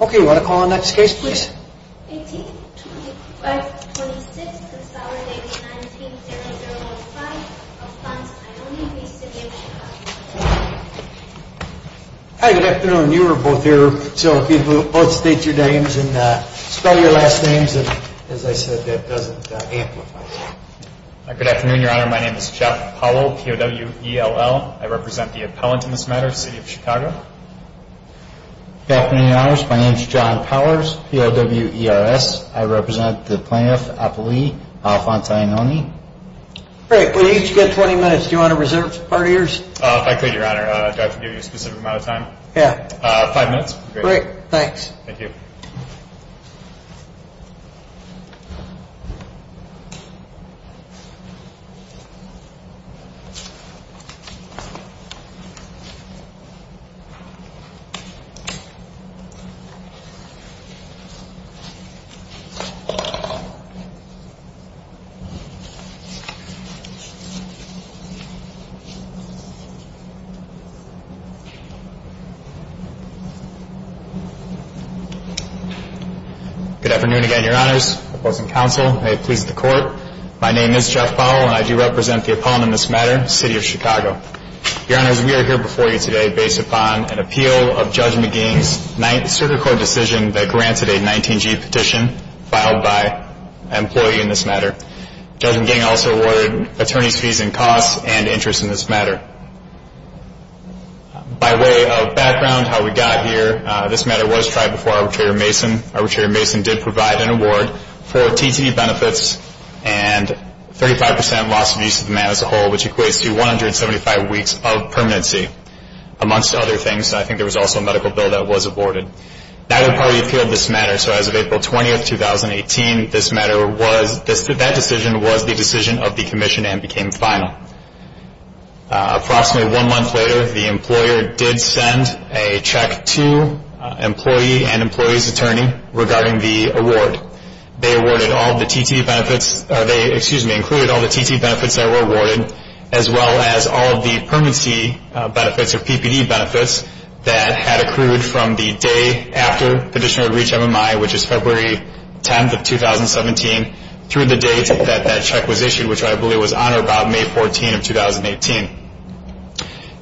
Okay, you want to call the next case, please? 18-2526, Consolidated 19-0015, Alphonse Iannoni v. City of Chicago. Hi, good afternoon. You are both here. So if you could both state your names and spell your last names, and as I said, that doesn't amplify it. Good afternoon, Your Honor. My name is Jeff Apollo, P-O-W-E-L-L. I represent the appellant in this matter, City of Chicago. Good afternoon, Your Honors. My name is John Powers, P-O-W-E-R-S. I represent the plaintiff, Apolli, Alphonse Iannoni. Great. Well, you each get 20 minutes. Do you want to reserve part of yours? If I could, Your Honor. Do I have to give you a specific amount of time? Yeah. Five minutes would be great. Great. Thanks. Thank you. Good afternoon again, Your Honors. Opposing counsel, may it please the Court. My name is Jeff Apollo, and I do represent the appellant in this matter, City of Chicago. Your Honors, we are here before you today based upon an appeal of Judge McGingh's circuit court decision that granted a 19-G petition filed by an employee in this matter. Judge McGingh also awarded attorney's fees and costs and interest in this matter. By way of background, how we got here, this matter was tried before Arbitrator Mason. Arbitrator Mason did provide an award for TTE benefits and 35 percent loss of use of the man as a whole, which equates to 175 weeks of permanency, amongst other things. I think there was also a medical bill that was aborted. Neither party appealed this matter, so as of April 20, 2018, that decision was the decision of the commission and became final. Approximately one month later, the employer did send a check to employee and employee's attorney regarding the award. They included all the TTE benefits that were awarded, as well as all of the permanency benefits or PPD benefits that had accrued from the day after petitioner reached MMI, which is February 10th of 2017, through the date that that check was issued, which I believe was on or about May 14 of 2018.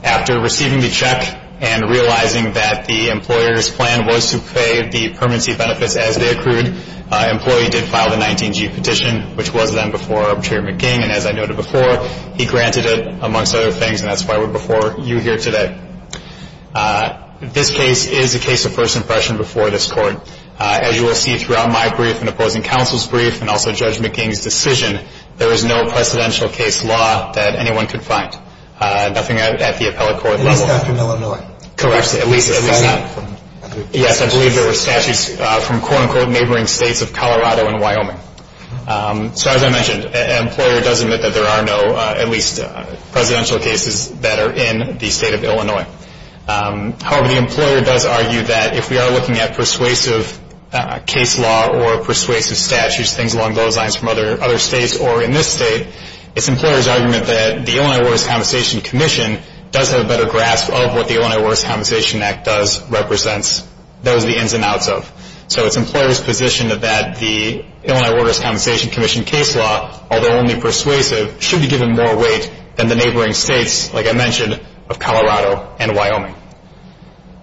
After receiving the check and realizing that the employer's plan was to pay the permanency benefits as they accrued, employee did file the 19G petition, which was then before Arbitrator McGingh, and as I noted before, he granted it amongst other things, and that's why we're before you here today. This case is a case of first impression before this court. As you will see throughout my brief and opposing counsel's brief and also Judge McGingh's decision, there is no precedential case law that anyone could find, nothing at the appellate court level. At least not from Illinois. Correct, at least not. Yes, I believe there were statutes from quote-unquote neighboring states of Colorado and Wyoming. So as I mentioned, an employer does admit that there are no, at least, presidential cases that are in the state of Illinois. However, the employer does argue that if we are looking at persuasive case law or persuasive statutes, things along those lines from other states or in this state, it's the employer's argument that the Illinois Waters Compensation Commission does have a better grasp of what the Illinois Waters Compensation Act does represents, those are the ins and outs of. So it's the employer's position that the Illinois Waters Compensation Commission case law, although only persuasive, should be given more weight than the neighboring states, like I mentioned, of Colorado and Wyoming.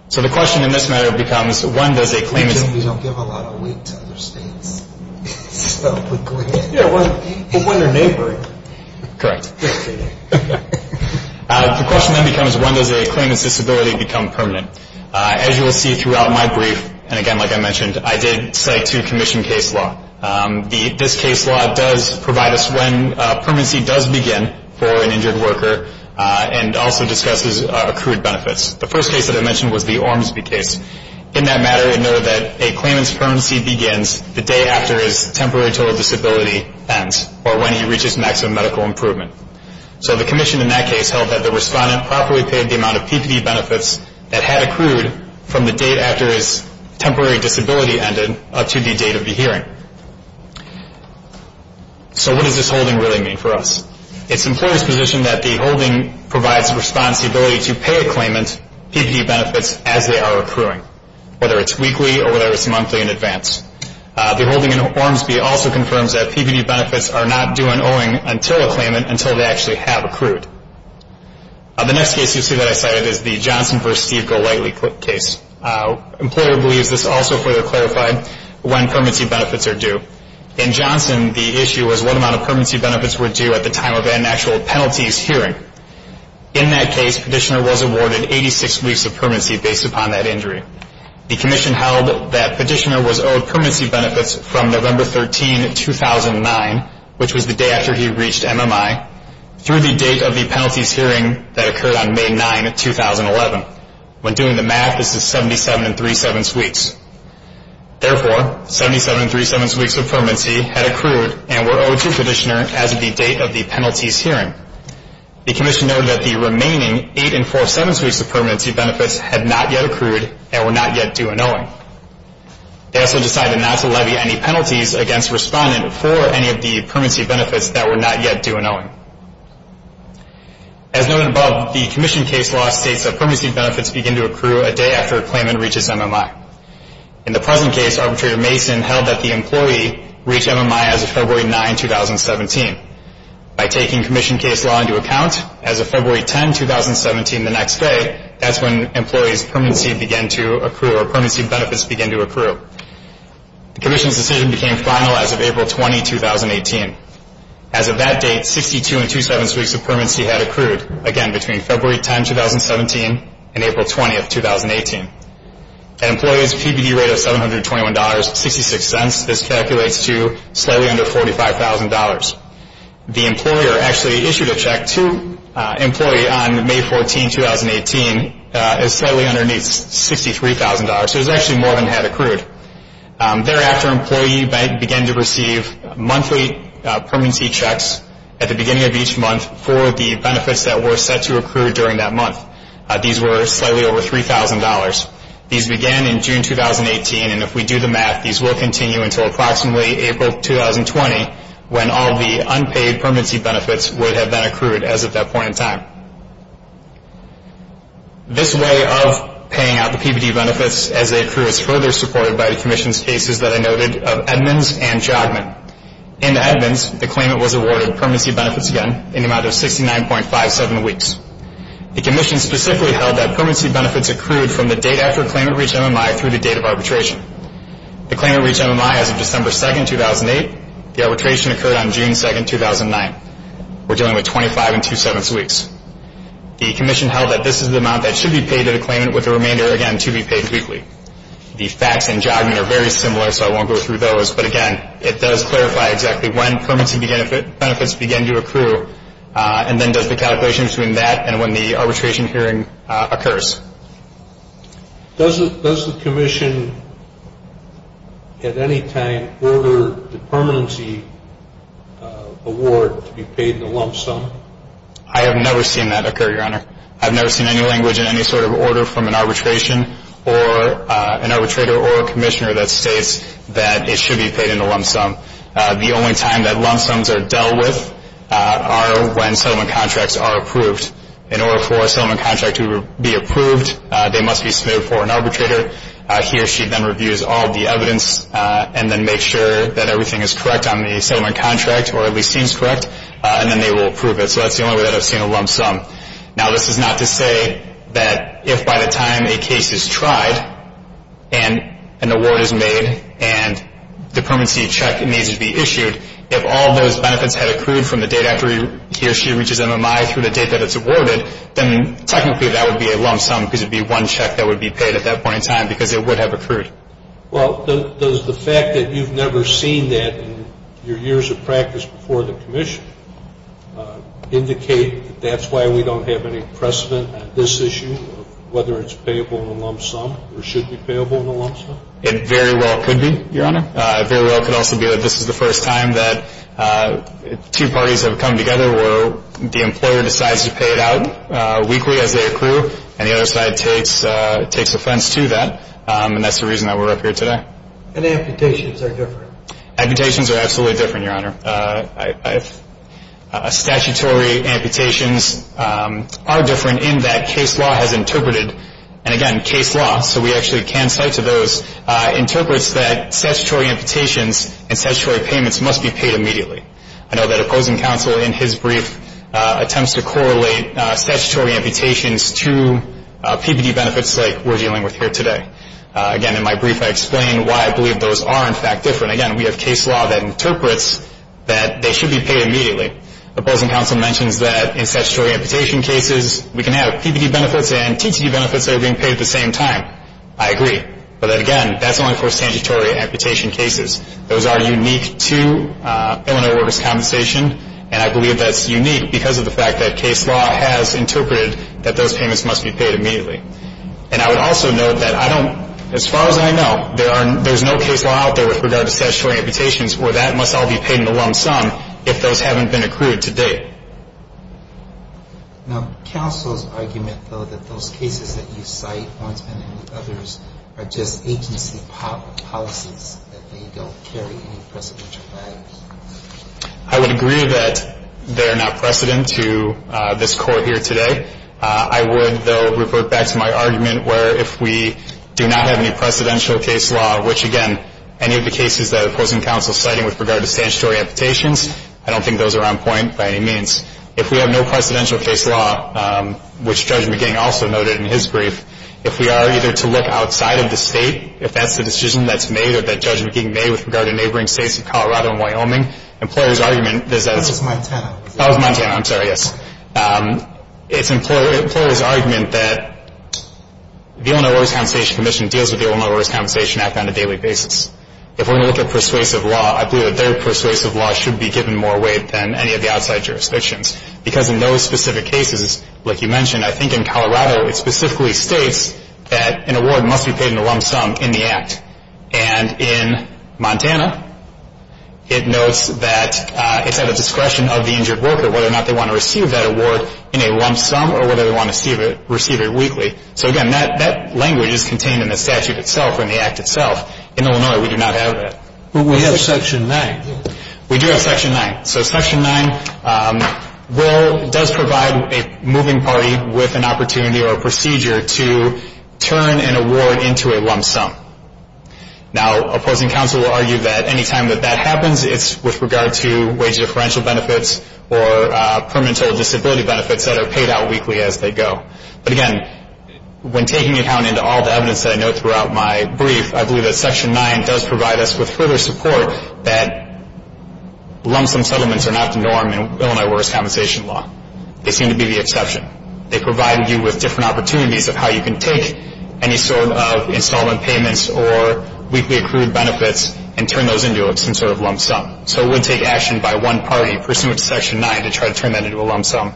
So the question in this matter becomes when does a claimant We don't give a lot of weight to other states. Yeah, but when they're neighboring. Correct. The question then becomes when does a claimant's disability become permanent. As you will see throughout my brief, and again, like I mentioned, I did cite two commission case law. This case law does provide us when permanency does begin for an injured worker and also discusses accrued benefits. The first case that I mentioned was the Ormsby case. In that matter, it noted that a claimant's permanency begins the day after his temporary total disability ends or when he reaches maximum medical improvement. So the commission in that case held that the respondent properly paid the amount of PPD benefits that had accrued from the date after his temporary disability ended up to the date of the hearing. So what does this holding really mean for us? It's the employer's position that the holding provides the respondent's ability to pay a claimant PPD benefits as they are accruing, whether it's weekly or whether it's monthly in advance. The holding in Ormsby also confirms that PPD benefits are not due on owing until a claimant, until they actually have accrued. The next case you'll see that I cited is the Johnson v. Steve Golightly case. Employer believes this also further clarified when permanency benefits are due. In Johnson, the issue was what amount of permanency benefits were due at the time of an actual penalties hearing. In that case, petitioner was awarded 86 weeks of permanency based upon that injury. The commission held that petitioner was owed permanency benefits from November 13, 2009, which was the day after he reached MMI, through the date of the penalties hearing that occurred on May 9, 2011. When doing the math, this is 77 3-7ths weeks. Therefore, 77 3-7ths weeks of permanency had accrued and were owed to petitioner as of the date of the penalties hearing. The commission noted that the remaining 8 4-7ths weeks of permanency benefits had not yet accrued and were not yet due on owing. They also decided not to levy any penalties against respondent for any of the permanency benefits that were not yet due on owing. As noted above, the commission case law states that permanency benefits begin to accrue a day after a claimant reaches MMI. In the present case, arbitrator Mason held that the employee reached MMI as of February 9, 2017. By taking commission case law into account, as of February 10, 2017, the next day, that's when employee's permanency began to accrue or permanency benefits began to accrue. The commission's decision became final as of April 20, 2018. As of that date, 62 2-7ths weeks of permanency had accrued, again between February 10, 2017 and April 20, 2018. An employee's PPD rate of $721.66, this calculates to slightly under $45,000. The employer actually issued a check to employee on May 14, 2018, slightly underneath $63,000, so it was actually more than had accrued. Thereafter, employee began to receive monthly permanency checks at the beginning of each month for the benefits that were set to accrue during that month. These were slightly over $3,000. These began in June 2018, and if we do the math, these will continue until approximately April 2020, when all the unpaid permanency benefits would have been accrued as of that point in time. This way of paying out the PPD benefits as they accrue is further supported by the commission's cases that I noted of Edmonds and Jogman. In the Edmonds, the claimant was awarded permanency benefits again in the amount of 69.57 weeks. The commission specifically held that permanency benefits accrued from the date after a claimant reached MMI through the date of arbitration. The claimant reached MMI as of December 2, 2008. The arbitration occurred on June 2, 2009. We're dealing with 25 and two-sevenths weeks. The commission held that this is the amount that should be paid to the claimant with the remainder, again, to be paid weekly. The facts in Jogman are very similar, so I won't go through those, but again, it does clarify exactly when permanency benefits begin to accrue, and then does the calculation between that and when the arbitration hearing occurs. Does the commission at any time order the permanency award to be paid in a lump sum? I have never seen that occur, Your Honor. I've never seen any language in any sort of order from an arbitration or an arbitrator or a commissioner that states that it should be paid in a lump sum. The only time that lump sums are dealt with are when settlement contracts are approved. In order for a settlement contract to be approved, they must be submitted for an arbitrator. He or she then reviews all of the evidence and then makes sure that everything is correct on the settlement contract, or at least seems correct, and then they will approve it. So that's the only way that I've seen a lump sum. Now, this is not to say that if by the time a case is tried and an award is made and the permanency check needs to be issued, if all those benefits had accrued from the date after he or she reaches MMI through the date that it's awarded, then technically that would be a lump sum because it would be one check that would be paid at that point in time because it would have accrued. Well, does the fact that you've never seen that in your years of practice before the commission indicate that that's why we don't have any precedent at this issue of whether it's payable in a lump sum or should be payable in a lump sum? It very well could be, Your Honor. It very well could also be that this is the first time that two parties have come together where the employer decides to pay it out weekly as they accrue, and the other side takes offense to that, and that's the reason that we're up here today. And amputations are different. Amputations are absolutely different, Your Honor. Statutory amputations are different in that case law has interpreted, and again, case law, so we actually can cite to those, interprets that statutory amputations and statutory payments must be paid immediately. I know that opposing counsel in his brief attempts to correlate statutory amputations to PPD benefits like we're dealing with here today. Again, in my brief I explain why I believe those are, in fact, different. Again, we have case law that interprets that they should be paid immediately. Opposing counsel mentions that in statutory amputation cases we can have PPD benefits and TTD benefits that are being paid at the same time. I agree. But again, that's only for statutory amputation cases. Those are unique to Illinois workers' compensation, and I believe that's unique because of the fact that case law has interpreted that those payments must be paid immediately. And I would also note that I don't, as far as I know, there's no case law out there with regard to statutory amputations where that must all be paid in the lump sum if those haven't been accrued to date. Now, counsel's argument, though, that those cases that you cite, Oinsman and others, are just agency policies, that they don't carry any precedential values. I would agree that they are not precedent to this Court here today. I would, though, revert back to my argument where if we do not have any precedential case law, which, again, any of the cases that opposing counsel is citing with regard to statutory amputations, I don't think those are on point by any means. If we have no precedential case law, which Judge McGing also noted in his brief, if we are either to look outside of the state, if that's the decision that's made or that Judge McGing made with regard to neighboring states of Colorado and Wyoming, the employer's argument is that it's... That was Montana. That was Montana. I'm sorry. Yes. It's the employer's argument that the Illinois Workers' Compensation Commission deals with the Illinois Workers' Compensation Act on a daily basis. If we're going to look at persuasive law, I believe that their persuasive law should be given more weight than any of the outside jurisdictions because in those specific cases, like you mentioned, I think in Colorado, it specifically states that an award must be paid in the lump sum in the Act. And in Montana, it notes that it's at the discretion of the injured worker whether or not they want to receive that award in a lump sum or whether they want to receive it weekly. So, again, that language is contained in the statute itself, in the Act itself. In Illinois, we do not have that. But we have Section 9. We do have Section 9. So Section 9 does provide a moving party with an opportunity or a procedure to turn an award into a lump sum. Now, opposing counsel will argue that any time that that happens, it's with regard to wage differential benefits or permanent disability benefits that are paid out weekly as they go. But, again, when taking account into all the evidence that I note throughout my brief, I believe that Section 9 does provide us with further support that lump sum settlements are not the norm in Illinois workers' compensation law. They seem to be the exception. They provide you with different opportunities of how you can take any sort of installment payments or weekly accrued benefits and turn those into some sort of lump sum. So it would take action by one party pursuant to Section 9 to try to turn that into a lump sum.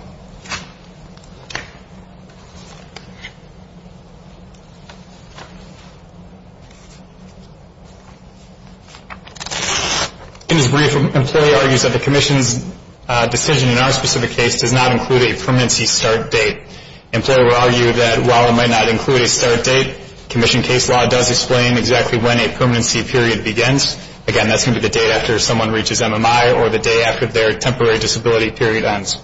In his brief, an employee argues that the Commission's decision in our specific case does not include a permanency start date. Employer will argue that while it might not include a start date, Commission case law does explain exactly when a permanency period begins. Again, that's going to be the date after someone reaches MMI or the day after their temporary disability period ends.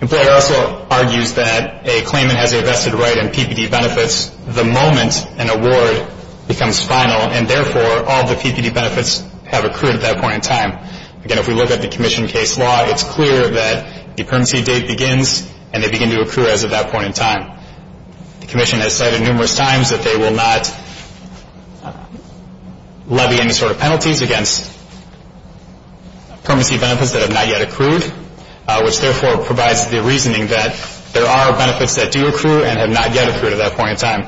Employer also argues that a claimant has a vested right in PPD benefits the moment an award becomes final and, therefore, all the PPD benefits have accrued at that point in time. Again, if we look at the Commission case law, it's clear that the permanency date begins and they begin to accrue as of that point in time. The Commission has said numerous times that they will not levy any sort of penalties against permanency benefits that have not yet accrued, which, therefore, provides the reasoning that there are benefits that do accrue and have not yet accrued at that point in time.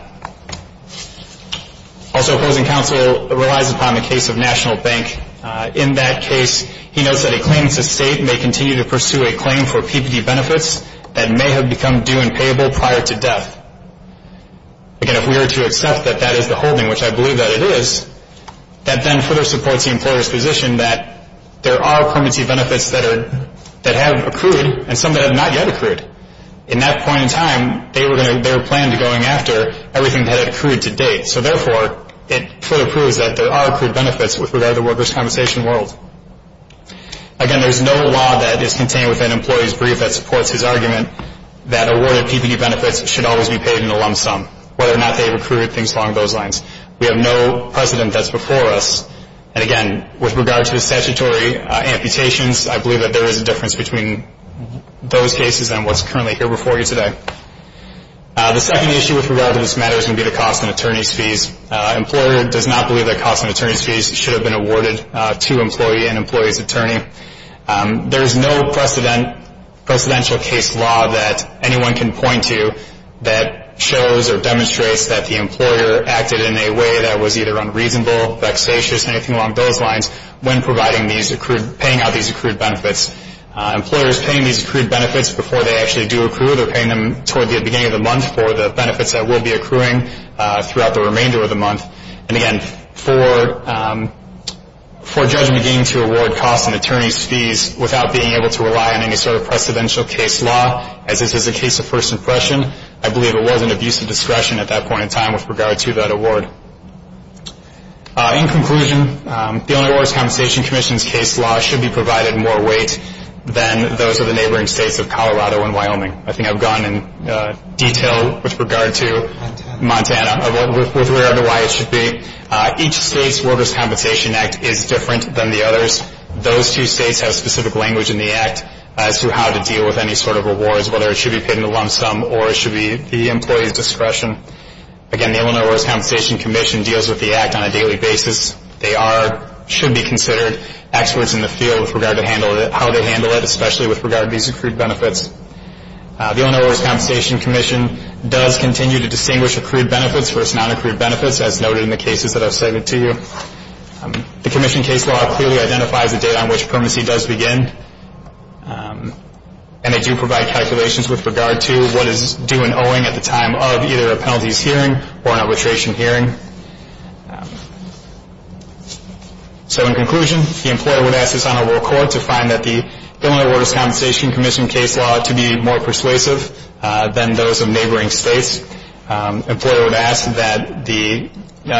Also, opposing counsel relies upon the case of National Bank. In that case, he notes that a claimant's estate may continue to pursue a claim for PPD benefits that may have become due and payable prior to death. Again, if we were to accept that that is the holding, which I believe that it is, that then further supports the employer's position that there are permanency benefits that have accrued and some that have not yet accrued. In that point in time, they were planned to go in after everything that had accrued to date. So, therefore, it further proves that there are accrued benefits with regard to workers' compensation world. Again, there's no law that is contained within an employee's brief that supports his argument that awarded PPD benefits should always be paid in a lump sum, whether or not they accrued things along those lines. We have no precedent that's before us. And, again, with regard to the statutory amputations, I believe that there is a difference between those cases and what's currently here before you today. The second issue with regard to this matter is going to be the cost and attorney's fees. Employer does not believe that cost and attorney's fees should have been awarded to employee and employee's attorney. There is no precedential case law that anyone can point to that shows or demonstrates that the employer acted in a way that was either unreasonable, vexatious, anything along those lines when paying out these accrued benefits. Employers paying these accrued benefits before they actually do accrue, they're paying them toward the beginning of the month for the benefits that will be accruing throughout the remainder of the month. And, again, for a judge beginning to award cost and attorney's fees without being able to rely on any sort of precedential case law, as is the case of first impression, I believe it was an abuse of discretion at that point in time with regard to that award. In conclusion, the Unemployer's Compensation Commission's case law should be provided more weight than those of the neighboring states of Colorado and Wyoming. I think I've gone in detail with regard to Montana, with regard to why it should be. Each state's Workers' Compensation Act is different than the others. Those two states have specific language in the act as to how to deal with any sort of rewards, whether it should be paid in a lump sum or it should be the employee's discretion. Again, the Illinois Workers' Compensation Commission deals with the act on a daily basis. They are, should be considered experts in the field with regard to how they handle it, especially with regard to these accrued benefits. The Illinois Workers' Compensation Commission does continue to distinguish accrued benefits versus non-accrued benefits, as noted in the cases that I've cited to you. The commission case law clearly identifies the date on which permanency does begin, and they do provide calculations with regard to what is due in owing at the time of either a penalties hearing or an arbitration hearing. So in conclusion, the employer would ask this Honorable Court to find that the Illinois Workers' Compensation Commission case law to be more persuasive than those of neighboring states. The employer would ask that the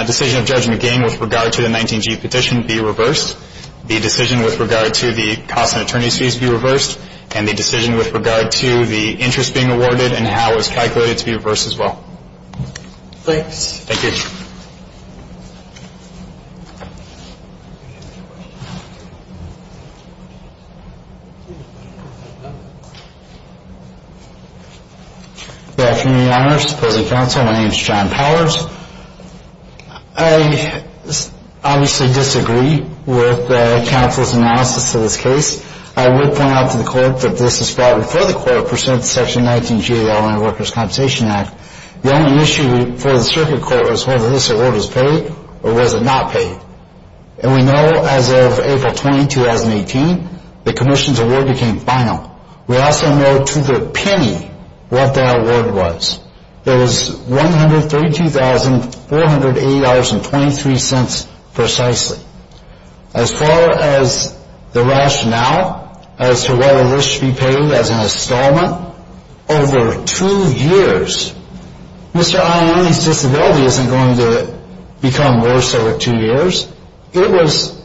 decision of Judge McGinn with regard to the 19G petition be reversed, the decision with regard to the cost and attorney's fees be reversed, and the decision with regard to the interest being awarded and how it was calculated to be reversed as well. Thanks. Thank you. Good afternoon, Your Honors. President Counsel, my name is John Powers. I obviously disagree with counsel's analysis of this case. I would point out to the Court that this is probably for the Court to present Section 19G of the Illinois Workers' Compensation Act. The only issue for the Circuit Court was whether this award was paid or was it not paid. And we know as of April 20, 2018, the Commission's award became final. We also know to the penny what that award was. It was $132,480.23 precisely. As far as the rationale as to whether this should be paid as an installment, over two years, Mr. Ioanni's disability isn't going to become worse over two years. It was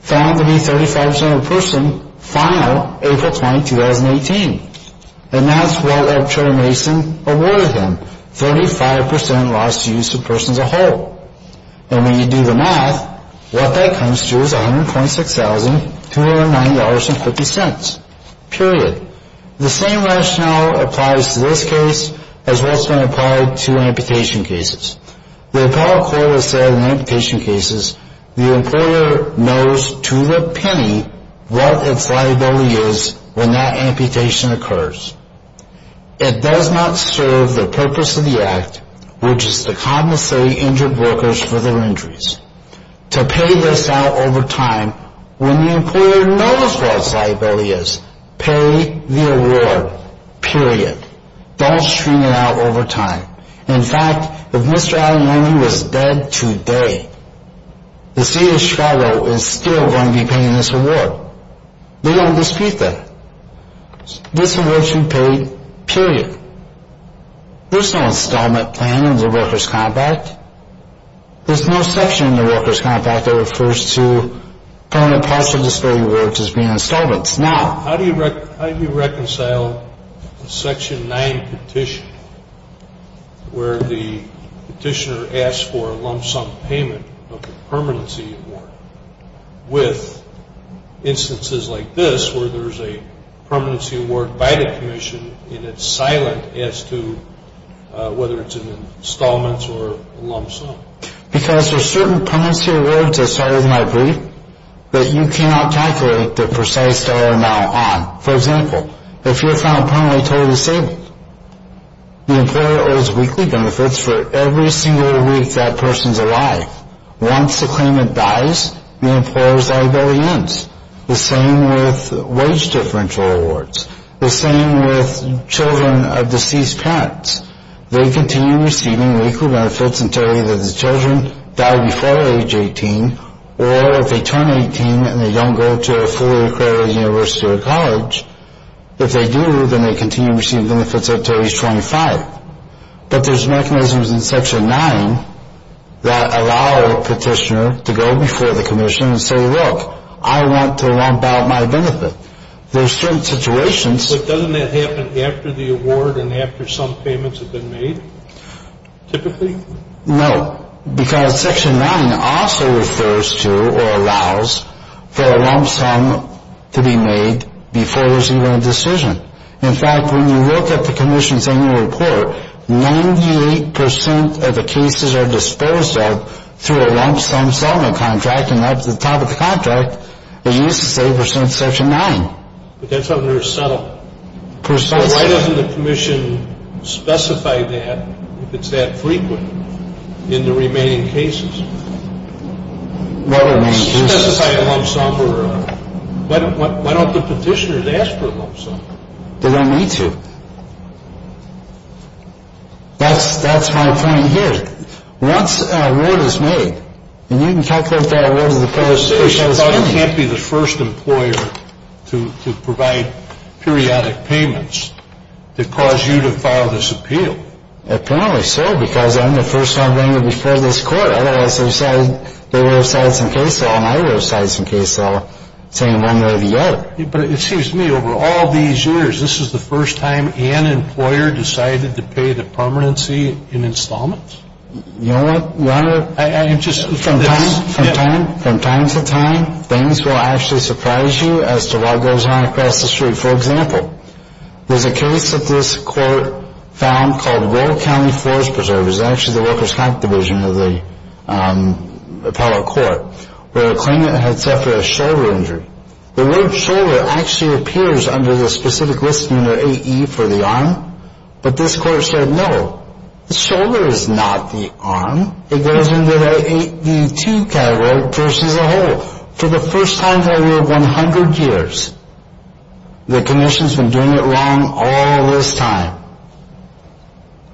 found to be 35% of the person final April 20, 2018. And that's what Attorney Mason awarded him, 35% loss to use of the person as a whole. And when you do the math, what that comes to is $126,209.50, period. The same rationale applies to this case as what's been applied to amputation cases. The Appellate Court has said in amputation cases, the employer knows to the penny what its liability is when that amputation occurs. It does not serve the purpose of the Act, which is to compensate injured workers for their injuries. To pay this out over time when the employer knows what its liability is. Pay the award, period. Don't stream it out over time. In fact, if Mr. Ioanni was dead today, the city of Chicago is still going to be paying this award. They won't dispute that. This award should be paid, period. There's no installment plan in the workers' compact. There's no section in the workers' compact that refers to permanent partial disability awards as being installments. Now, how do you reconcile a Section 9 petition where the petitioner asks for a lump sum payment of a permanency award with instances like this where there's a permanency award by the commission and it's silent as to whether it's an installment or a lump sum? Because there's certain permanency awards, as far as I believe, that you cannot calculate the precise dollar amount on. For example, if you're found permanently totally disabled, the employer owes weekly benefits for every single week that person's alive. Once the claimant dies, the employer's liability ends. The same with wage differential awards. The same with children of deceased parents. They continue receiving weekly benefits until either the children die before age 18, or if they turn 18 and they don't go to a fully accredited university or college, if they do, then they continue to receive benefits until age 25. But there's mechanisms in Section 9 that allow a petitioner to go before the commission and say, look, I want to lump out my benefit. There's certain situations. But doesn't that happen after the award and after some payments have been made, typically? No, because Section 9 also refers to or allows for a lump sum to be made before there's even a decision. In fact, when you look at the commission's annual report, 98 percent of the cases are disposed of through a lump sum settlement contract. And at the top of the contract, it used to say for Section 9. But that's under a settlement. So why doesn't the commission specify that if it's that frequent in the remaining cases? Specify a lump sum. Why don't the petitioners ask for a lump sum? They don't need to. That's my point here. Once an award is made, and you can calculate the award of the petitioner. But you can't be the first employer to provide periodic payments to cause you to file this appeal. Apparently so, because I'm the first time going before this court. Otherwise, they would have cited some case law, and I would have cited some case law, saying one way or the other. But it seems to me over all these years, this is the first time an employer decided to pay the permanency in installments? You know what, Your Honor? From time to time, things will actually surprise you as to what goes on across the street. For example, there's a case that this court found called Royal County Forest Preserve. It was actually the Workers' Comp Division of the appellate court, where a claimant had suffered a shoulder injury. The word shoulder actually appears under the specific list under 8E for the arm. But this court said, no, the shoulder is not the arm. It goes into the 8D2 category versus a hole. For the first time in over 100 years, the commission's been doing it wrong all this time.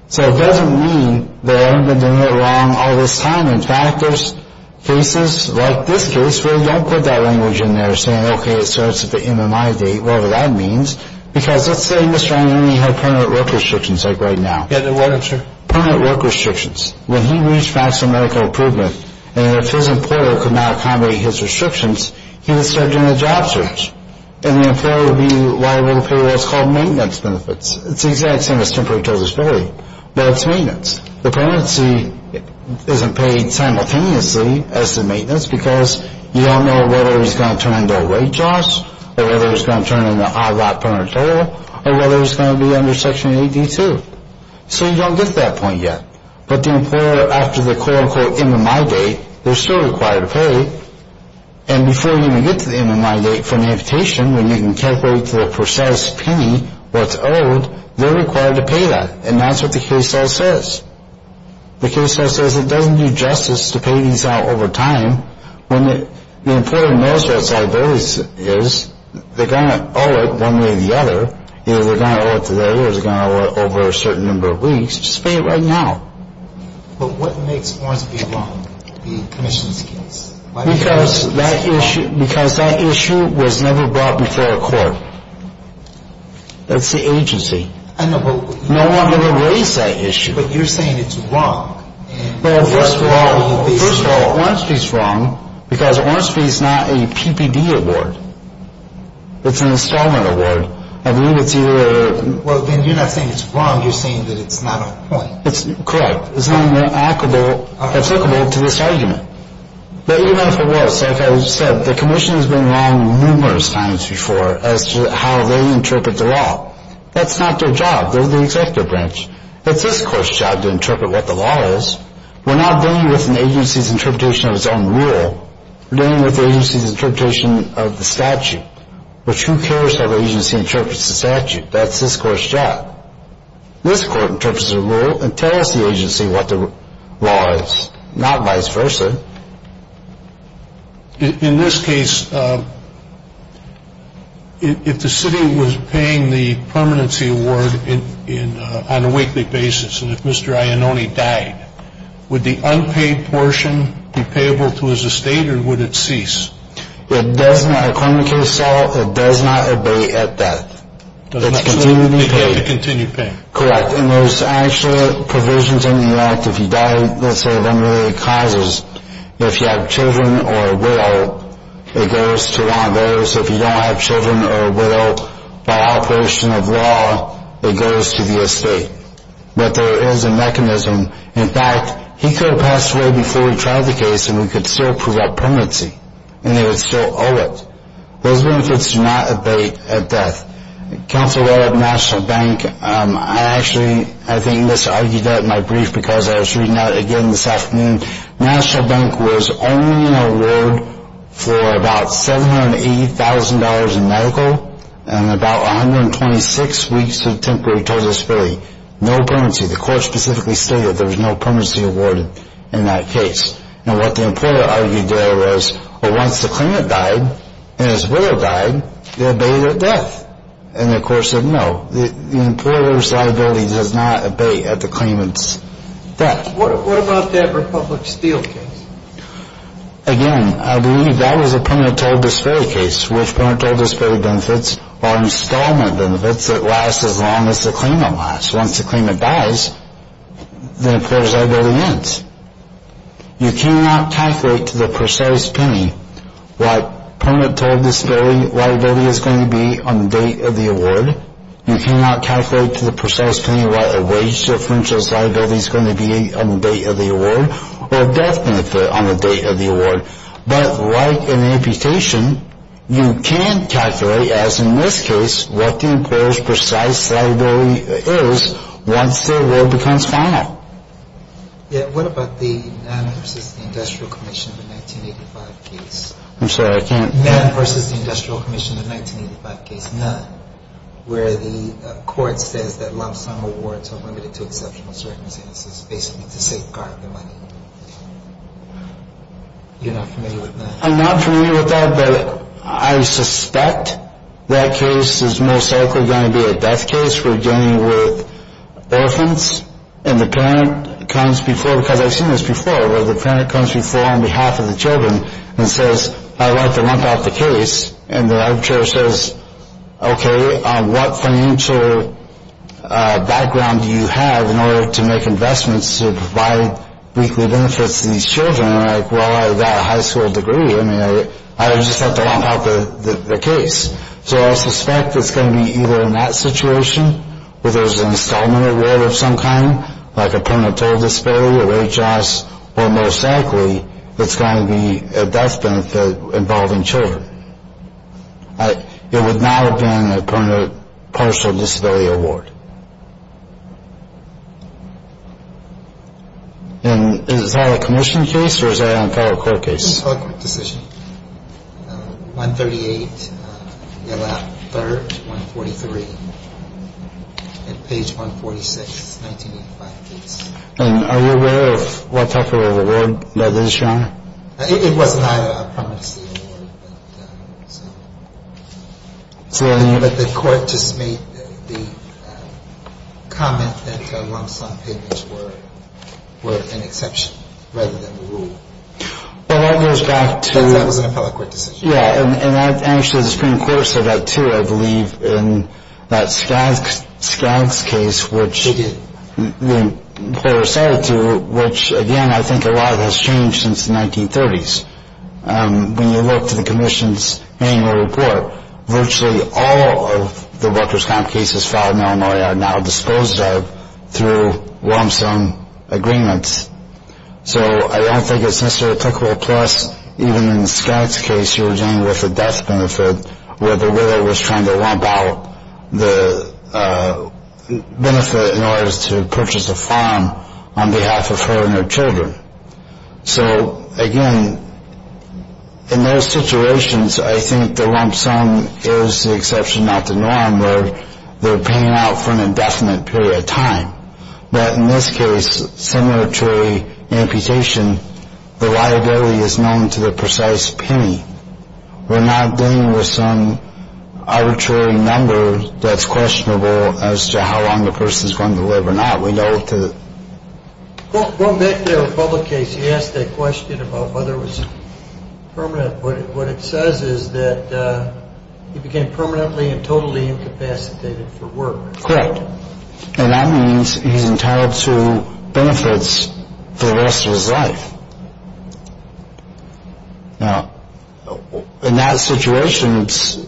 So it doesn't mean they haven't been doing it wrong all this time. In fact, there's cases like this case where they don't put that language in there, saying, okay, it starts at the MMI date, whatever that means. Because let's say Mr. Angoni had permanent work restrictions, like right now. Yeah, they're what, sir? Permanent work restrictions. When he reached maximum medical improvement, and if his employer could not accommodate his restrictions, he would start doing a job search. And the employer would be liable to pay what's called maintenance benefits. It's the exact same as temporary disability, but it's maintenance. The permanency isn't paid simultaneously as the maintenance, because you don't know whether he's going to turn into a wage loss or whether he's going to turn into an odd-lot penitentiary or whether he's going to be under Section 8D2. So you don't get to that point yet. But the employer, after the quote-unquote MMI date, they're still required to pay. And before you even get to the MMI date for an amputation, when you can calculate the precise penny, what's owed, they're required to pay that. And that's what the case law says. The case law says it doesn't do justice to pay these out over time. When the employer knows what side those is, they're going to owe it one way or the other. Either they're going to owe it today or they're going to owe it over a certain number of weeks. Just pay it right now. But what makes Ornsby wrong, the commission's case? Because that issue was never brought before a court. That's the agency. No one ever raised that issue. But you're saying it's wrong. Well, first of all, Ornsby's wrong because Ornsby's not a PPD award. It's an installment award. I believe it's either or. Well, then you're not saying it's wrong. You're saying that it's not a point. Correct. It's not applicable to this argument. But even if it was, like I said, the commission has been wrong numerous times before as to how they interpret the law. That's not their job. They're the executive branch. That's this court's job to interpret what the law is. We're not dealing with an agency's interpretation of its own rule. We're dealing with the agency's interpretation of the statute. But who cares how the agency interprets the statute? That's this court's job. This court interprets the rule and tells the agency what the law is, not vice versa. In this case, if the city was paying the permanency award on a weekly basis and if Mr. Iannone died, would the unpaid portion be payable to his estate or would it cease? It does not. According to the case law, it does not obey at that. It has to continue paying. Correct. Well, and there's actually provisions in the act if you die, let's say, of unrelated causes. If you have children or a widow, it goes to law and order. So if you don't have children or a widow, by operation of law, it goes to the estate. But there is a mechanism. In fact, he could have passed away before we tried the case and we could still approve that permanency, and they would still owe it. Those benefits do not abate at death. Counsel, while at National Bank, I actually I think misargued that in my brief because I was reading that again this afternoon. National Bank was owing an award for about $780,000 in medical and about 126 weeks of temporary total disability. No permanency. The court specifically stated there was no permanency awarded in that case. And what the employer argued there was, well, once the claimant died and his widow died, they're abated at death. And the court said, no, the employer's liability does not abate at the claimant's death. What about that Republic Steel case? Again, I believe that was a parental disparity case, which parental disparity benefits are installment benefits that last as long as the claimant lasts. Once the claimant dies, the employer's liability ends. You cannot calculate to the precise penny what parental disability liability is going to be on the date of the award. You cannot calculate to the precise penny what a wage differential's liability is going to be on the date of the award or death benefit on the date of the award. But like an amputation, you can calculate, as in this case, what the employer's precise liability is once the award becomes final. Yeah, what about the Nann v. Industrial Commission, the 1985 case? I'm sorry, I can't. Nann v. Industrial Commission, the 1985 case. Nann. Where the court says that lump sum awards are limited to exceptional circumstances, basically to safeguard the money. You're not familiar with that? I'm not familiar with that, but I suspect that case is most likely going to be a death case. We're dealing with orphans, and the parent comes before, because I've seen this before, where the parent comes before on behalf of the children and says, I'd like to lump out the case, and the arbitrator says, okay, what financial background do you have in order to make investments to provide weekly benefits to these children? And I'm like, well, I've got a high school degree. I mean, I would just like to lump out the case. So I suspect it's going to be either in that situation, where there's an installment award of some kind, like a permanent total disability or H.S., or most likely it's going to be a death benefit involving children. It would not have been a permanent partial disability award. And is that a commission case, or is that a federal court case? It's a federal court decision. Page 138, Allot 3rd, 143. And page 146, 1985. And are you aware of what type of award that is shown? It wasn't either, I promise you. But the court just made the comment that the lump sum payments were an exception rather than a rule. But that goes back to Because that was an appellate court decision. Yeah, and actually the Supreme Court said that too, I believe, in that Skaggs case, which the employer cited to, which, again, I think a lot of it has changed since the 1930s. When you look to the commission's annual report, virtually all of the workers' comp cases filed in Illinois are now disposed of through lump sum agreements. So I don't think it's necessarily applicable. Plus, even in Skaggs' case, you were dealing with a death benefit where the widow was trying to lump out the benefit in order to purchase a farm on behalf of her and her children. So, again, in those situations, I think the lump sum is the exception, not the norm, where they're paying out for an indefinite period of time. But in this case, some arbitrary amputation, the liability is known to the precise penny. We're not dealing with some arbitrary number that's questionable as to how long the person is going to live or not. We know to Going back to the Republic case, you asked that question about whether it was permanent. What it says is that he became permanently and totally incapacitated for work. Correct. And that means he's entitled to benefits for the rest of his life. Now, in that situation, it's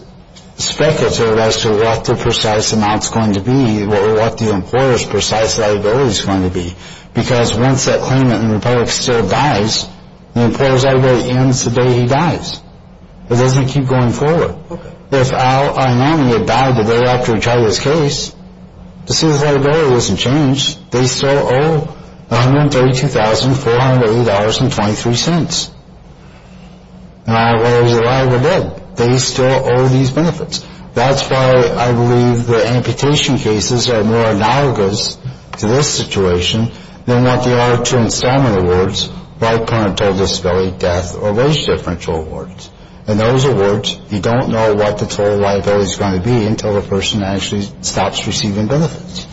speculative as to what the precise amount is going to be or what the employer's precise liability is going to be. Because once that claimant in the Republic still dies, the employer's liability ends the day he dies. It doesn't keep going forward. If our nominee had died the day after we tried this case, his liability doesn't change. They still owe $132,480.23. And our liability is a liable debt. They still owe these benefits. That's why I believe the amputation cases are more analogous to this situation than what they are to installment awards, right parental disability, death, or wage differential awards. In those awards, you don't know what the total liability is going to be until the person actually stops receiving benefits.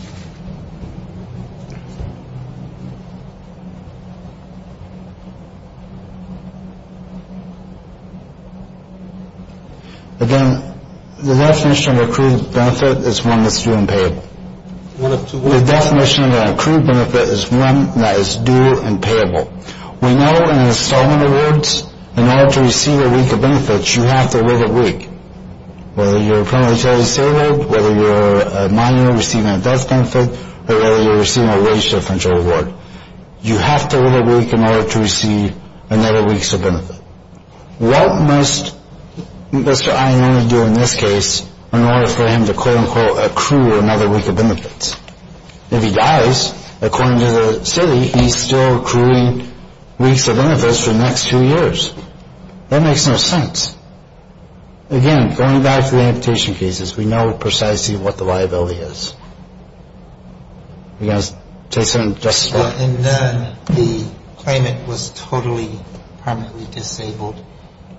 Again, the definition of an accrued benefit is one that's due and payable. The definition of an accrued benefit is one that is due and payable. We know in installment awards, in order to receive a week of benefits, you have to live a week. Whether you're a parental disability, whether you're a minor receiving a death benefit, or whether you're receiving a wage differential award, you have to live a week in order to receive another week's of benefit. What must Mr. Ayanami do in this case in order for him to quote unquote accrue another week of benefits? If he dies, according to the city, he's still accruing weeks of benefits for the next two years. That makes no sense. Again, going back to the amputation cases, we know precisely what the liability is. You guys want to say something? In none, the claimant was totally permanently disabled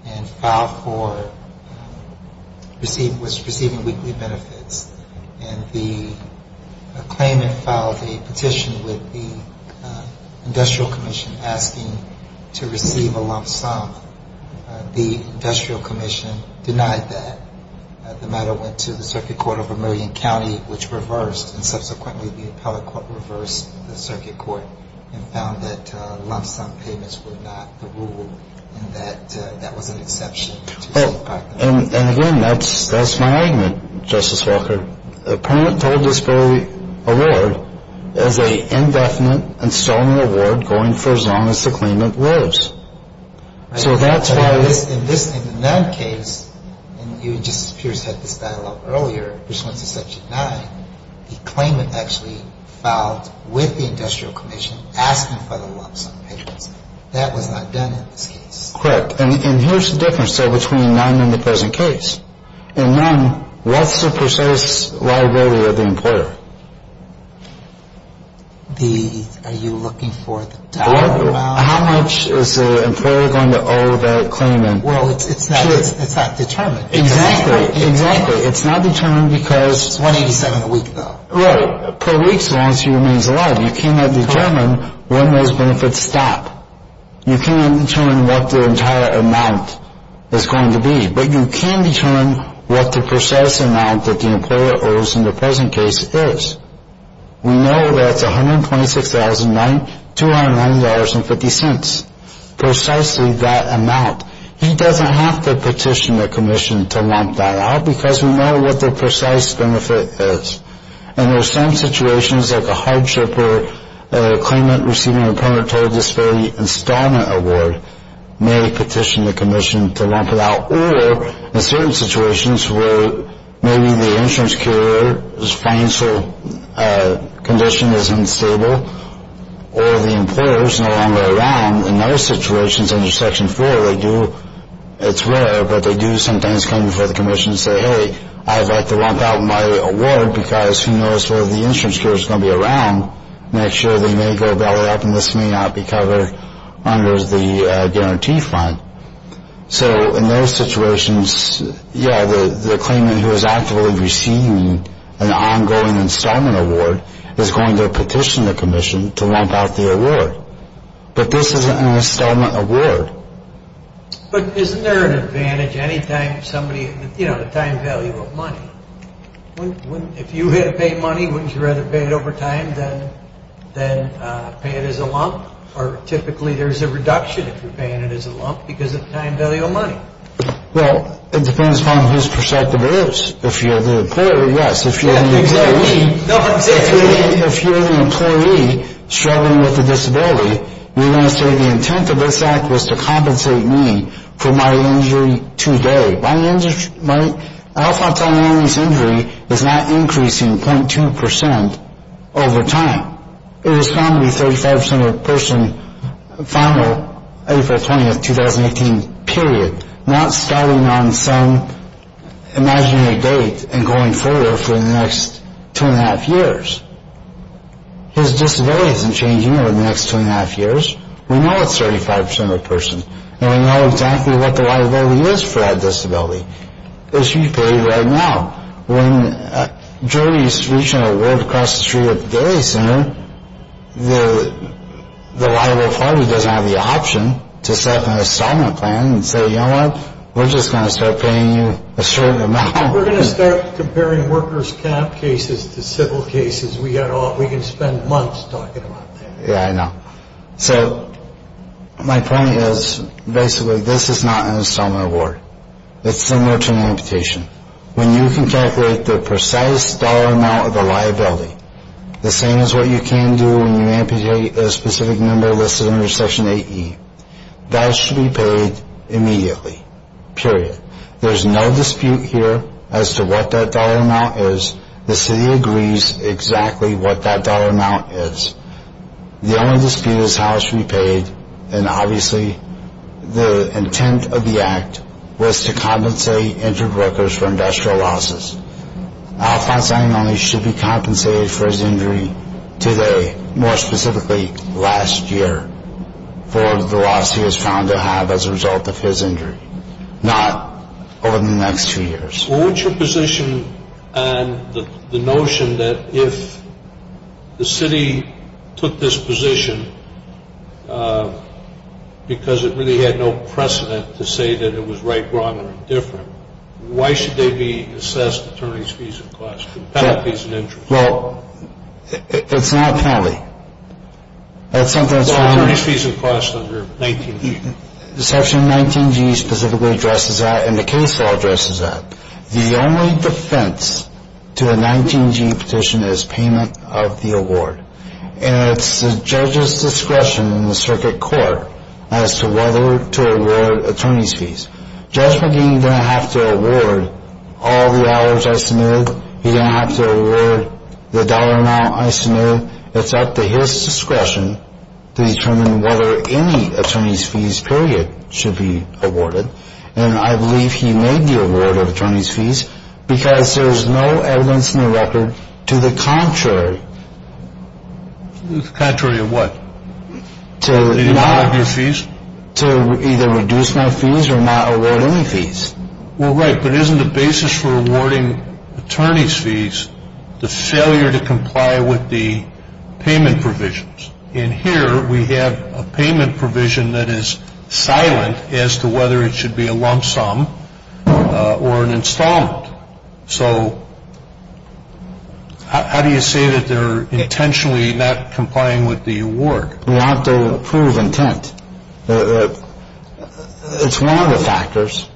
and filed for receiving weekly benefits. And the claimant filed a petition with the industrial commission asking to receive a lump sum. The industrial commission denied that. The matter went to the circuit court of Vermillion County, which reversed, and subsequently the appellate court reversed the circuit court and found that lump sum payments were not the rule and that that was an exception. And again, that's my argument, Justice Walker. A parental disability award is an indefinite and stony award going for as long as the claimant lives. In the none case, and you and Justice Pierce had this dialogue earlier, which went to Section 9, the claimant actually filed with the industrial commission asking for the lump sum payments. That was not done in this case. Correct. And here's the difference, though, between none and the present case. In none, what's the precise liability of the employer? Are you looking for the dollar amount? How much is the employer going to owe that claimant? Well, it's not determined. Exactly. Exactly. It's not determined because. It's $187 a week, though. Right. Per week, so as long as he remains alive. You cannot determine when those benefits stop. You cannot determine what the entire amount is going to be. But you can determine what the precise amount that the employer owes in the present case is. We know that's $126,009, $209.50. Precisely that amount. He doesn't have to petition the commission to lump that out because we know what the precise benefit is. And there's some situations like a hardship or a claimant receiving a premature disability installment award may petition the commission to lump it out. Or in certain situations where maybe the insurance carrier's financial condition is unstable or the employer's no longer around, in those situations under Section 4 they do. It's rare, but they do sometimes come before the commission and say, hey, I'd like to lump out my award because who knows where the insurance carrier's going to be around next year. They may go belly up and this may not be covered under the guarantee fund. So in those situations, yeah, the claimant who has actively received an ongoing installment award is going to petition the commission to lump out the award. But this isn't an installment award. But isn't there an advantage any time somebody, you know, the time value of money? If you had to pay money, wouldn't you rather pay it over time than pay it as a lump? Or typically there's a reduction if you're paying it as a lump because of the time value of money. Well, it depends upon whose perspective it is. If you're the employer, yes. If you're the employee struggling with a disability, you're going to say the intent of this act was to compensate me for my injury today. My alpha thalamus injury is not increasing 0.2% over time. It was found to be 35% of the person final April 20th, 2018 period, not starting on some imaginary date and going further for the next two and a half years. His disability isn't changing over the next two and a half years. We know it's 35% of the person. And we know exactly what the liability is for that disability. It should be paid right now. When a jury is reaching an award across the street at the daily center, the liable party doesn't have the option to set up an installment plan and say, you know what, we're just going to start paying you a certain amount. We're going to start comparing workers' camp cases to civil cases. We can spend months talking about that. Yeah, I know. So my point is basically this is not an installment award. It's similar to an amputation. When you can calculate the precise dollar amount of the liability, the same as what you can do when you amputate a specific number listed under Section 8E, that should be paid immediately, period. There's no dispute here as to what that dollar amount is. The city agrees exactly what that dollar amount is. The only dispute is how it should be paid. And obviously the intent of the act was to compensate injured workers for industrial losses. Alfonso Añones should be compensated for his injury today, more specifically last year for the loss he was found to have as a result of his injury, not over the next two years. Well, what's your position on the notion that if the city took this position because it really had no precedent to say that it was right, wrong, or indifferent, why should they be assessed attorneys' fees and costs, penalties and injuries? Well, it's not a penalty. That's something that's found under… Well, attorneys' fees and costs under 19G. And the case law addresses that. The only defense to a 19G petition is payment of the award. And it's the judge's discretion in the circuit court as to whether to award attorneys' fees. Judge McGee didn't have to award all the hours I submitted. He didn't have to award the dollar amount I submitted. It's up to his discretion to determine whether any attorneys' fees, period, should be awarded. And I believe he made the award of attorneys' fees because there's no evidence in the record to the contrary. The contrary of what? To not… To not award your fees? To either reduce my fees or not award any fees. The failure to comply with the payment provisions. In here, we have a payment provision that is silent as to whether it should be a lump sum or an installment. So how do you say that they're intentionally not complying with the award? We have to prove intent. It's one of the factors.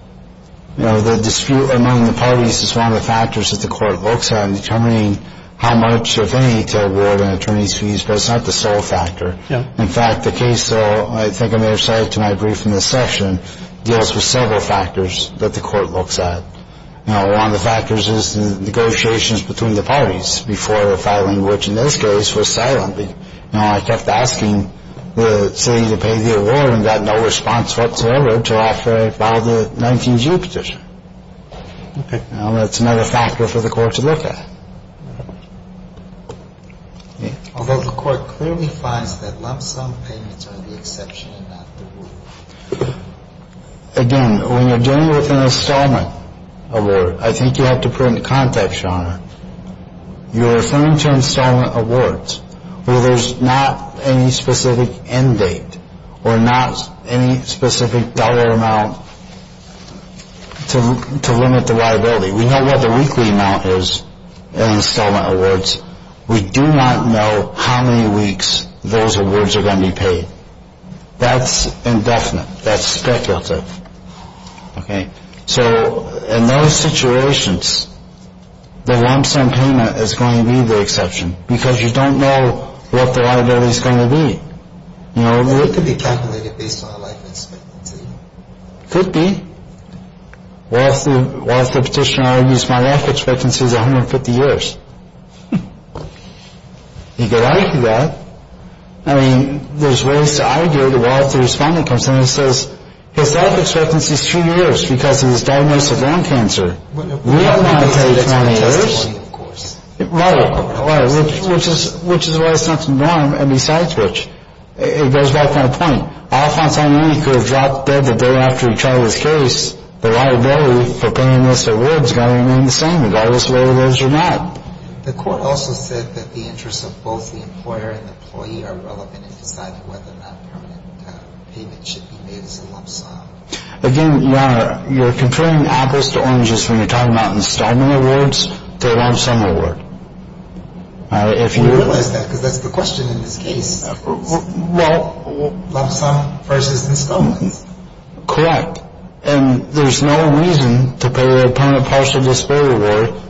The dispute among the parties is one of the factors that the court looks at in determining how much, if any, to award an attorney's fees. But it's not the sole factor. In fact, the case, I think I may have cited to my brief in this session, deals with several factors that the court looks at. One of the factors is the negotiations between the parties before filing, which in this case was silently. I kept asking the city to pay the award and got no response whatsoever to offer to file the 19-G petition. Okay. Now that's another factor for the court to look at. Although the court clearly finds that lump sum payments are the exception and not the rule. Again, when you're dealing with an installment award, I think you have to put into context, Your Honor, you're referring to installment awards where there's not any specific end date or not any specific dollar amount to limit the liability. We know what the weekly amount is in installment awards. We do not know how many weeks those awards are going to be paid. That's indefinite. That's speculative. Okay. So in those situations, the lump sum payment is going to be the exception because you don't know what the liability is going to be. It could be calculated based on a life expectancy. Could be. Well, if the petitioner argues my life expectancy is 150 years, he could argue that. I mean, there's ways to argue it. Well, if the respondent comes in and says his life expectancy is two years because of his diagnosis of lung cancer, we are not going to tell you how many years. Right. Which is why it's not the norm, and besides which, it goes back to my point. All of a sudden, you could have dropped dead the day after you tried this case. The liability for paying this award is going to remain the same regardless of whether it is or not. The court also said that the interests of both the employer and the employee are relevant in deciding whether or not permanent payment should be made as a lump sum. Again, Your Honor, you're conferring apples to oranges when you're talking about installment awards to a lump sum award. We realize that because that's the question in this case. Well. Lump sum versus installment. Correct. And there's no reason to pay a permanent partial disability award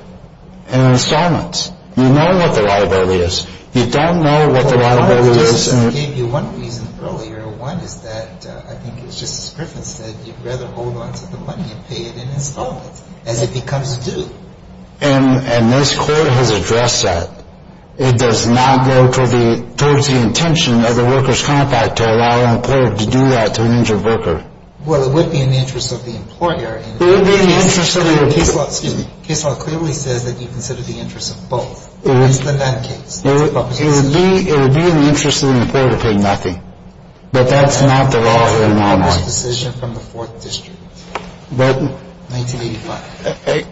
in installments. You know what the liability is. You don't know what the liability is. Your Honor, I gave you one reason earlier. One is that, I think it was Justice Griffin said, you'd rather hold on to the money and pay it in installments as it becomes due. And this court has addressed that. It does not go towards the intention of the workers' compact to allow an employer to do that to an injured worker. Well, it would be in the interest of the employer. It would be in the interest of the employer. Excuse me. Case law clearly says that you consider the interests of both. It would be in the interest of the employer to pay nothing. But that's not the law here, Your Honor. It's a decision from the Fourth District, 1985.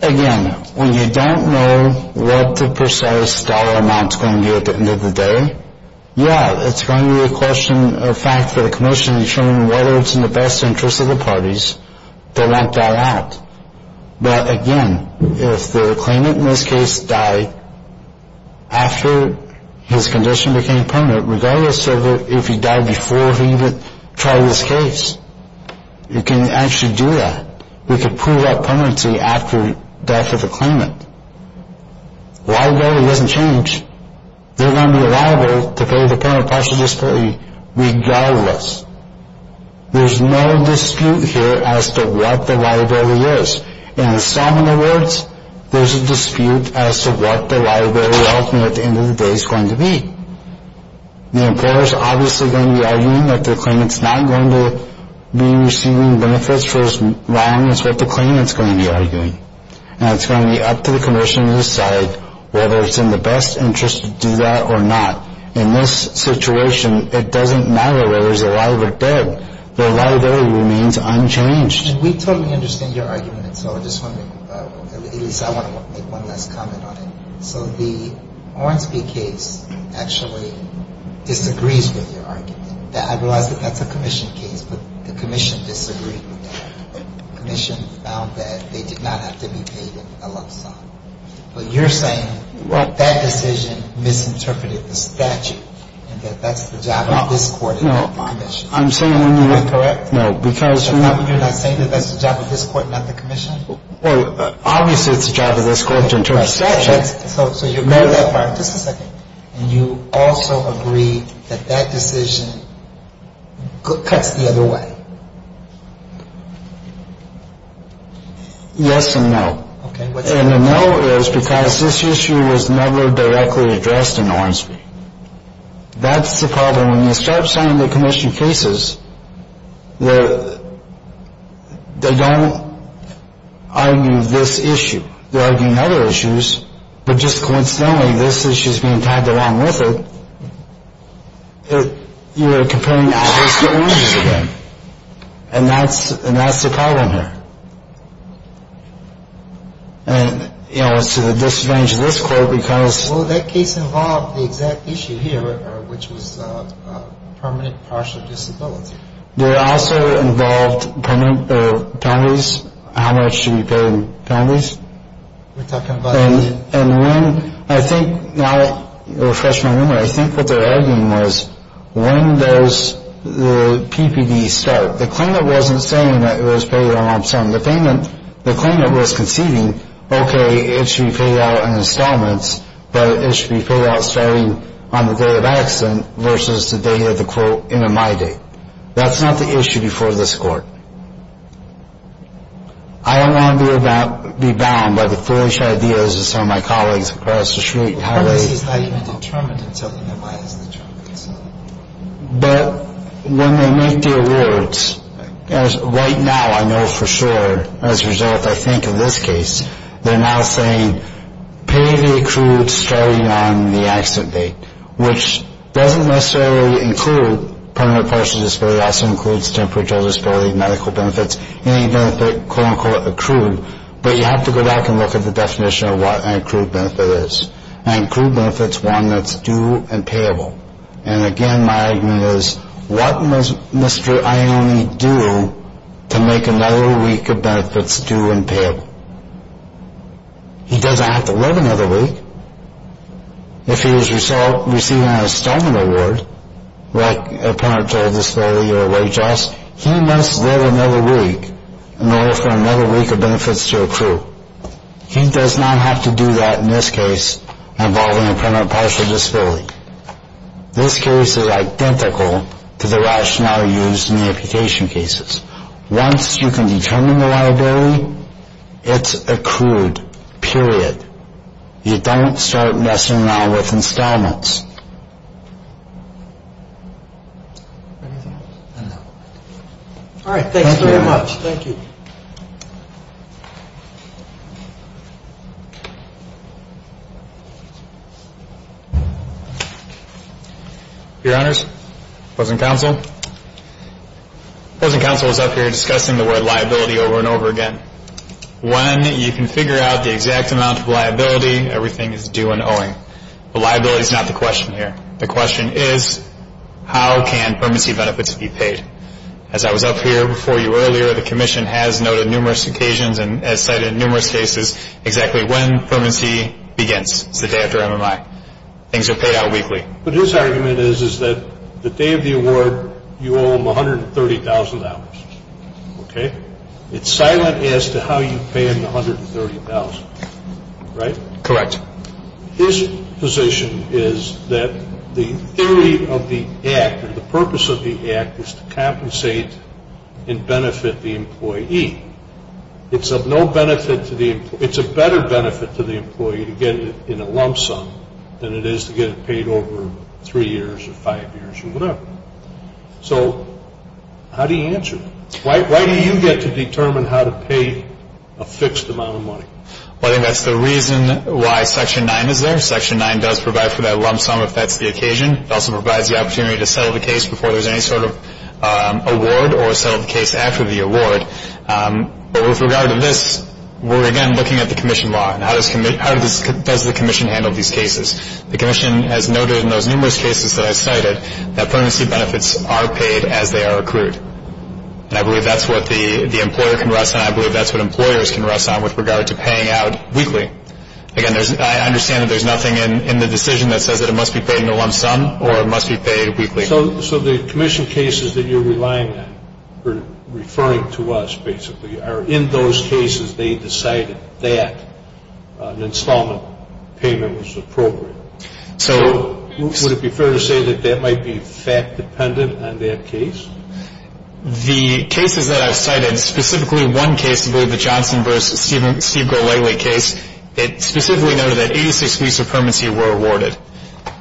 Again, when you don't know what the precise dollar amount is going to be at the end of the day, yeah, it's going to be a question of fact for the commission to determine whether it's in the best interest of the parties. They won't dial out. But again, if the claimant in this case died after his condition became permanent, regardless of if he died before he even tried this case, you can actually do that. We can prove that permanency after death of a claimant. Liability doesn't change. They're going to be liable to pay the payment of partial disability regardless. There's no dispute here as to what the liability is. In the Solomon Awards, there's a dispute as to what the liability ultimately at the end of the day is going to be. The employer's obviously going to be arguing that the claimant's not going to be receiving benefits for as long as what the claimant's going to be arguing. And it's going to be up to the commission to decide whether it's in the best interest to do that or not. In this situation, it doesn't matter whether he's alive or dead. The liability remains unchanged. And we totally understand your argument. And so I just want to make one last comment on it. So the Ornsby case actually disagrees with your argument. I realize that that's a commission case, but the commission disagreed with that. The commission found that they did not have to be paid a lump sum. But you're saying that decision misinterpreted the statute and that that's the job of this court and not the commission. No, I'm saying when you're not correct. No, because you're not saying that that's the job of this court and not the commission? Well, obviously it's the job of this court to interpret the statute. So you agree with that part. Just a second. And you also agree that that decision cuts the other way. Yes and no. And the no is because this issue was never directly addressed in Ornsby. That's the problem. When you start signing the commission cases, they don't argue this issue. They're arguing other issues. But just coincidentally, this issue is being tied along with it. You're comparing opposite ranges again. And that's the problem here. And, you know, it's to the disadvantage of this court because. Well, that case involved the exact issue here, which was permanent partial disability. It also involved penalties. How much should be paid in penalties? And I think now I refresh my memory. I think what they're arguing was when does the PPD start? The claimant wasn't saying that it was paid on some. The claimant was conceding, okay, it should be paid out in installments, but it should be paid out starting on the day of accident versus the day of the quote MMI date. That's not the issue before this court. I don't want to be bound by the foolish ideas of some of my colleagues across the street. This is not even determined until the MMI is determined. But when they make the awards, right now I know for sure, as a result I think of this case, they're now saying pay the accrued starting on the accident date, which doesn't necessarily include permanent partial disability. It also includes temperatural disability, medical benefits, any benefit quote unquote accrued. But you have to go back and look at the definition of what an accrued benefit is. An accrued benefit is one that's due and payable. And again, my argument is, what must Mr. Ione do to make another week of benefits due and payable? He doesn't have to live another week. If he is receiving an installment award, like a permanent partial disability or a wage loss, he must live another week in order for another week of benefits to accrue. He does not have to do that in this case involving a permanent partial disability. This case is identical to the rationale used in the application cases. Once you can determine the liability, it's accrued, period. You don't start messing around with installments. Anything else? I don't know. All right. Thank you very much. Thank you. Your Honors, opposing counsel. Opposing counsel is up here discussing the word liability over and over again. When you can figure out the exact amount of liability, everything is due and owing. The liability is not the question here. The question is, how can permanency benefits be paid? As I was up here before you earlier, the Commission has noted numerous occasions and has cited numerous cases exactly when permanency begins. It's the day after MMI. Things are paid out weekly. But his argument is that the day of the award, you owe him $130,000. Okay? It's silent as to how you pay him the $130,000. Right? Correct. His position is that the theory of the act or the purpose of the act is to compensate and benefit the employee. It's of no benefit to the employee. It's a better benefit to the employee to get it in a lump sum than it is to get it paid over three years or five years or whatever. So how do you answer that? Why do you get to determine how to pay a fixed amount of money? Well, I think that's the reason why Section 9 is there. Section 9 does provide for that lump sum if that's the occasion. It also provides the opportunity to settle the case before there's any sort of award or settle the case after the award. But with regard to this, we're, again, looking at the Commission law and how does the Commission handle these cases. The Commission has noted in those numerous cases that I cited that permanency benefits are paid as they are accrued. And I believe that's what the employer can rest on. With regard to paying out weekly, again, I understand that there's nothing in the decision that says that it must be paid in a lump sum or it must be paid weekly. So the Commission cases that you're relying on or referring to us, basically, are in those cases they decided that an installment payment was appropriate. So would it be fair to say that that might be fact-dependent on that case? The cases that I've cited, specifically one case, I believe, the Johnson v. Steve Golayly case, it specifically noted that 86 weeks of permanency were awarded.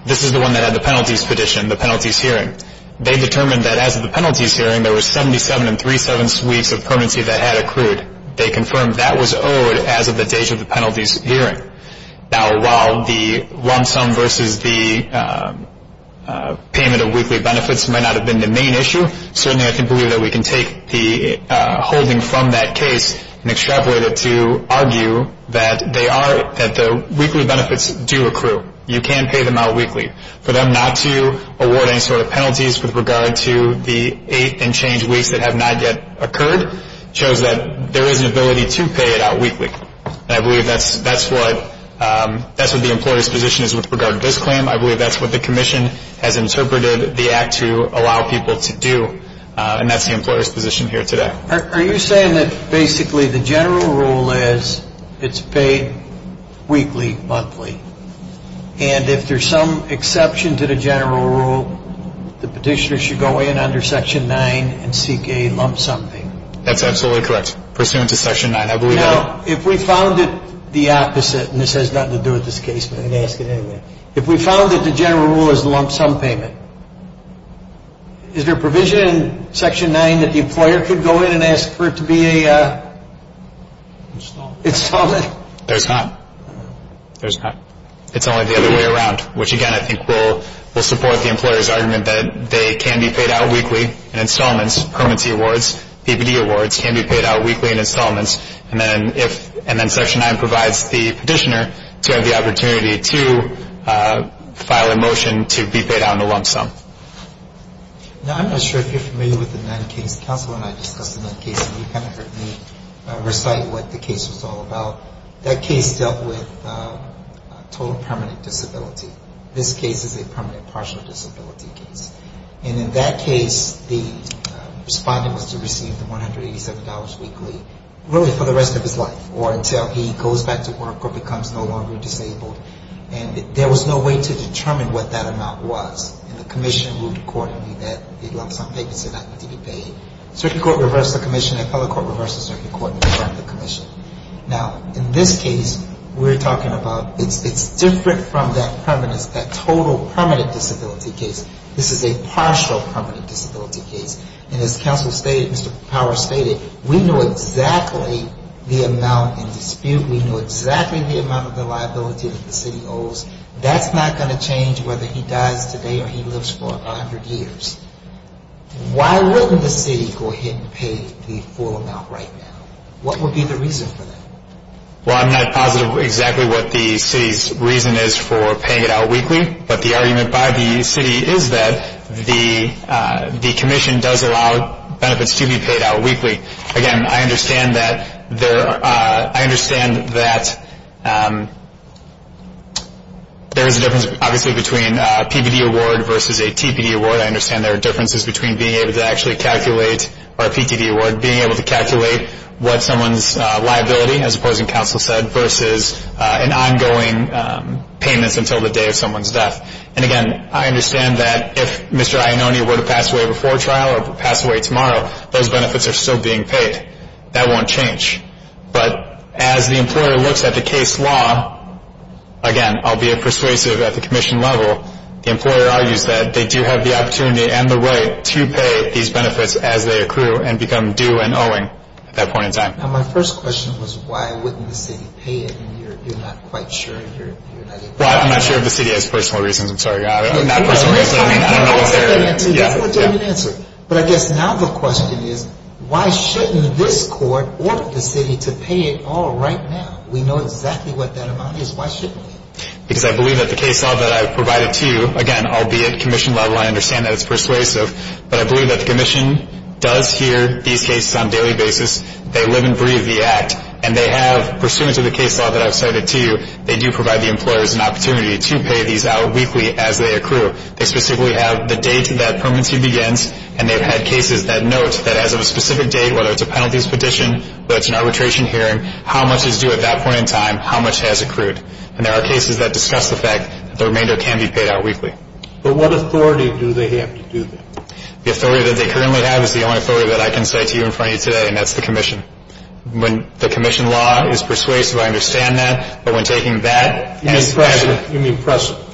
This is the one that had the penalties petition, the penalties hearing. They determined that as of the penalties hearing, there were 77 and 37 weeks of permanency that had accrued. They confirmed that was owed as of the date of the penalties hearing. Now, while the lump sum versus the payment of weekly benefits might not have been the main issue, certainly I can believe that we can take the holding from that case and extrapolate it to argue that the weekly benefits do accrue. You can pay them out weekly. For them not to award any sort of penalties with regard to the eight unchanged weeks that have not yet occurred shows that there is an ability to pay it out weekly. I believe that's what the employer's position is with regard to this claim. I believe that's what the commission has interpreted the act to allow people to do, and that's the employer's position here today. Are you saying that basically the general rule is it's paid weekly, monthly, and if there's some exception to the general rule, the petitioner should go in under Section 9 and seek a lump sum payment? That's absolutely correct, pursuant to Section 9, I believe. Now, if we found it the opposite, and this has nothing to do with this case, but I'm going to ask it anyway. If we found that the general rule is lump sum payment, is there a provision in Section 9 that the employer could go in and ask for it to be a installment? There's not. There's not. It's only the other way around, which, again, I think will support the employer's argument that they can be paid out weekly in installments, permanency awards. PPD awards can be paid out weekly in installments. And then Section 9 provides the petitioner to have the opportunity to file a motion to be paid out in a lump sum. Now, I'm not sure if you're familiar with the Nunn case. Counselor and I discussed the Nunn case, and you kind of heard me recite what the case was all about. That case dealt with total permanent disability. This case is a permanent partial disability case. And in that case, the respondent must have received $187 weekly, really for the rest of his life, or until he goes back to work or becomes no longer disabled. And there was no way to determine what that amount was. And the commission ruled accordingly that the lump sum payments did not need to be paid. Circuit court reversed the commission. The appellate court reversed the circuit court and returned the commission. Now, in this case, we're talking about it's different from that permanent, that total permanent disability case. This is a partial permanent disability case. And as counsel stated, Mr. Powers stated, we know exactly the amount in dispute. We know exactly the amount of the liability that the city owes. That's not going to change whether he dies today or he lives for 100 years. Why wouldn't the city go ahead and pay the full amount right now? What would be the reason for that? Well, I'm not positive exactly what the city's reason is for paying it out weekly. But the argument by the city is that the commission does allow benefits to be paid out weekly. Again, I understand that there is a difference, obviously, between a PVD award versus a TPD award. I understand there are differences between being able to actually calculate, or a PTD award, being able to calculate what someone's liability, as opposing counsel said, versus an ongoing payments until the day of someone's death. And again, I understand that if Mr. Iannone were to pass away before trial or pass away tomorrow, those benefits are still being paid. That won't change. But as the employer looks at the case law, again, albeit persuasive at the commission level, the employer argues that they do have the opportunity and the right to pay these benefits as they accrue and become due and owing at that point in time. Now, my first question was, why wouldn't the city pay it? And you're not quite sure. Well, I'm not sure if the city has personal reasons. I'm sorry. Not personal reasons. That's what you haven't answered. But I guess now the question is, why shouldn't this court order the city to pay it all right now? We know exactly what that amount is. Why shouldn't we? Because I believe that the case law that I provided to you, again, albeit commission level, I understand that it's persuasive, but I believe that the commission does hear these cases on a daily basis. They live and breathe the act. And they have, pursuant to the case law that I've cited to you, they do provide the employers an opportunity to pay these out weekly as they accrue. They specifically have the date that permanency begins, and they've had cases that note that as of a specific date, whether it's a penalties petition, whether it's an arbitration hearing, how much is due at that point in time, how much has accrued. And there are cases that discuss the fact that the remainder can be paid out weekly. But what authority do they have to do that? The authority that they currently have is the only authority that I can cite to you in front of you today, and that's the commission. When the commission law is persuasive, I understand that. But when taking that as precedent. You mean precedent.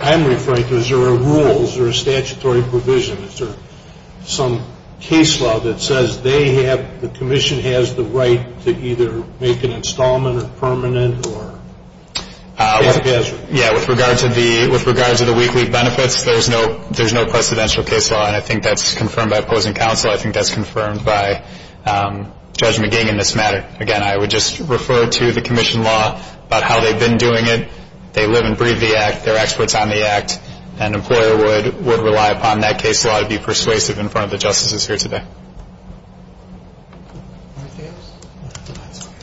I'm referring to, is there a rule, is there a statutory provision, is there some case law that says they have, Yeah, with regard to the weekly benefits, there's no precedential case law, and I think that's confirmed by opposing counsel. I think that's confirmed by Judge McGee in this matter. Again, I would just refer to the commission law about how they've been doing it. They live and breathe the act. They're experts on the act. An employer would rely upon that case law to be persuasive in front of the justices here today.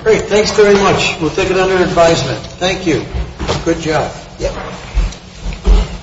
Great, thanks very much. We'll take it under advisement. Thank you. Good job. Yep.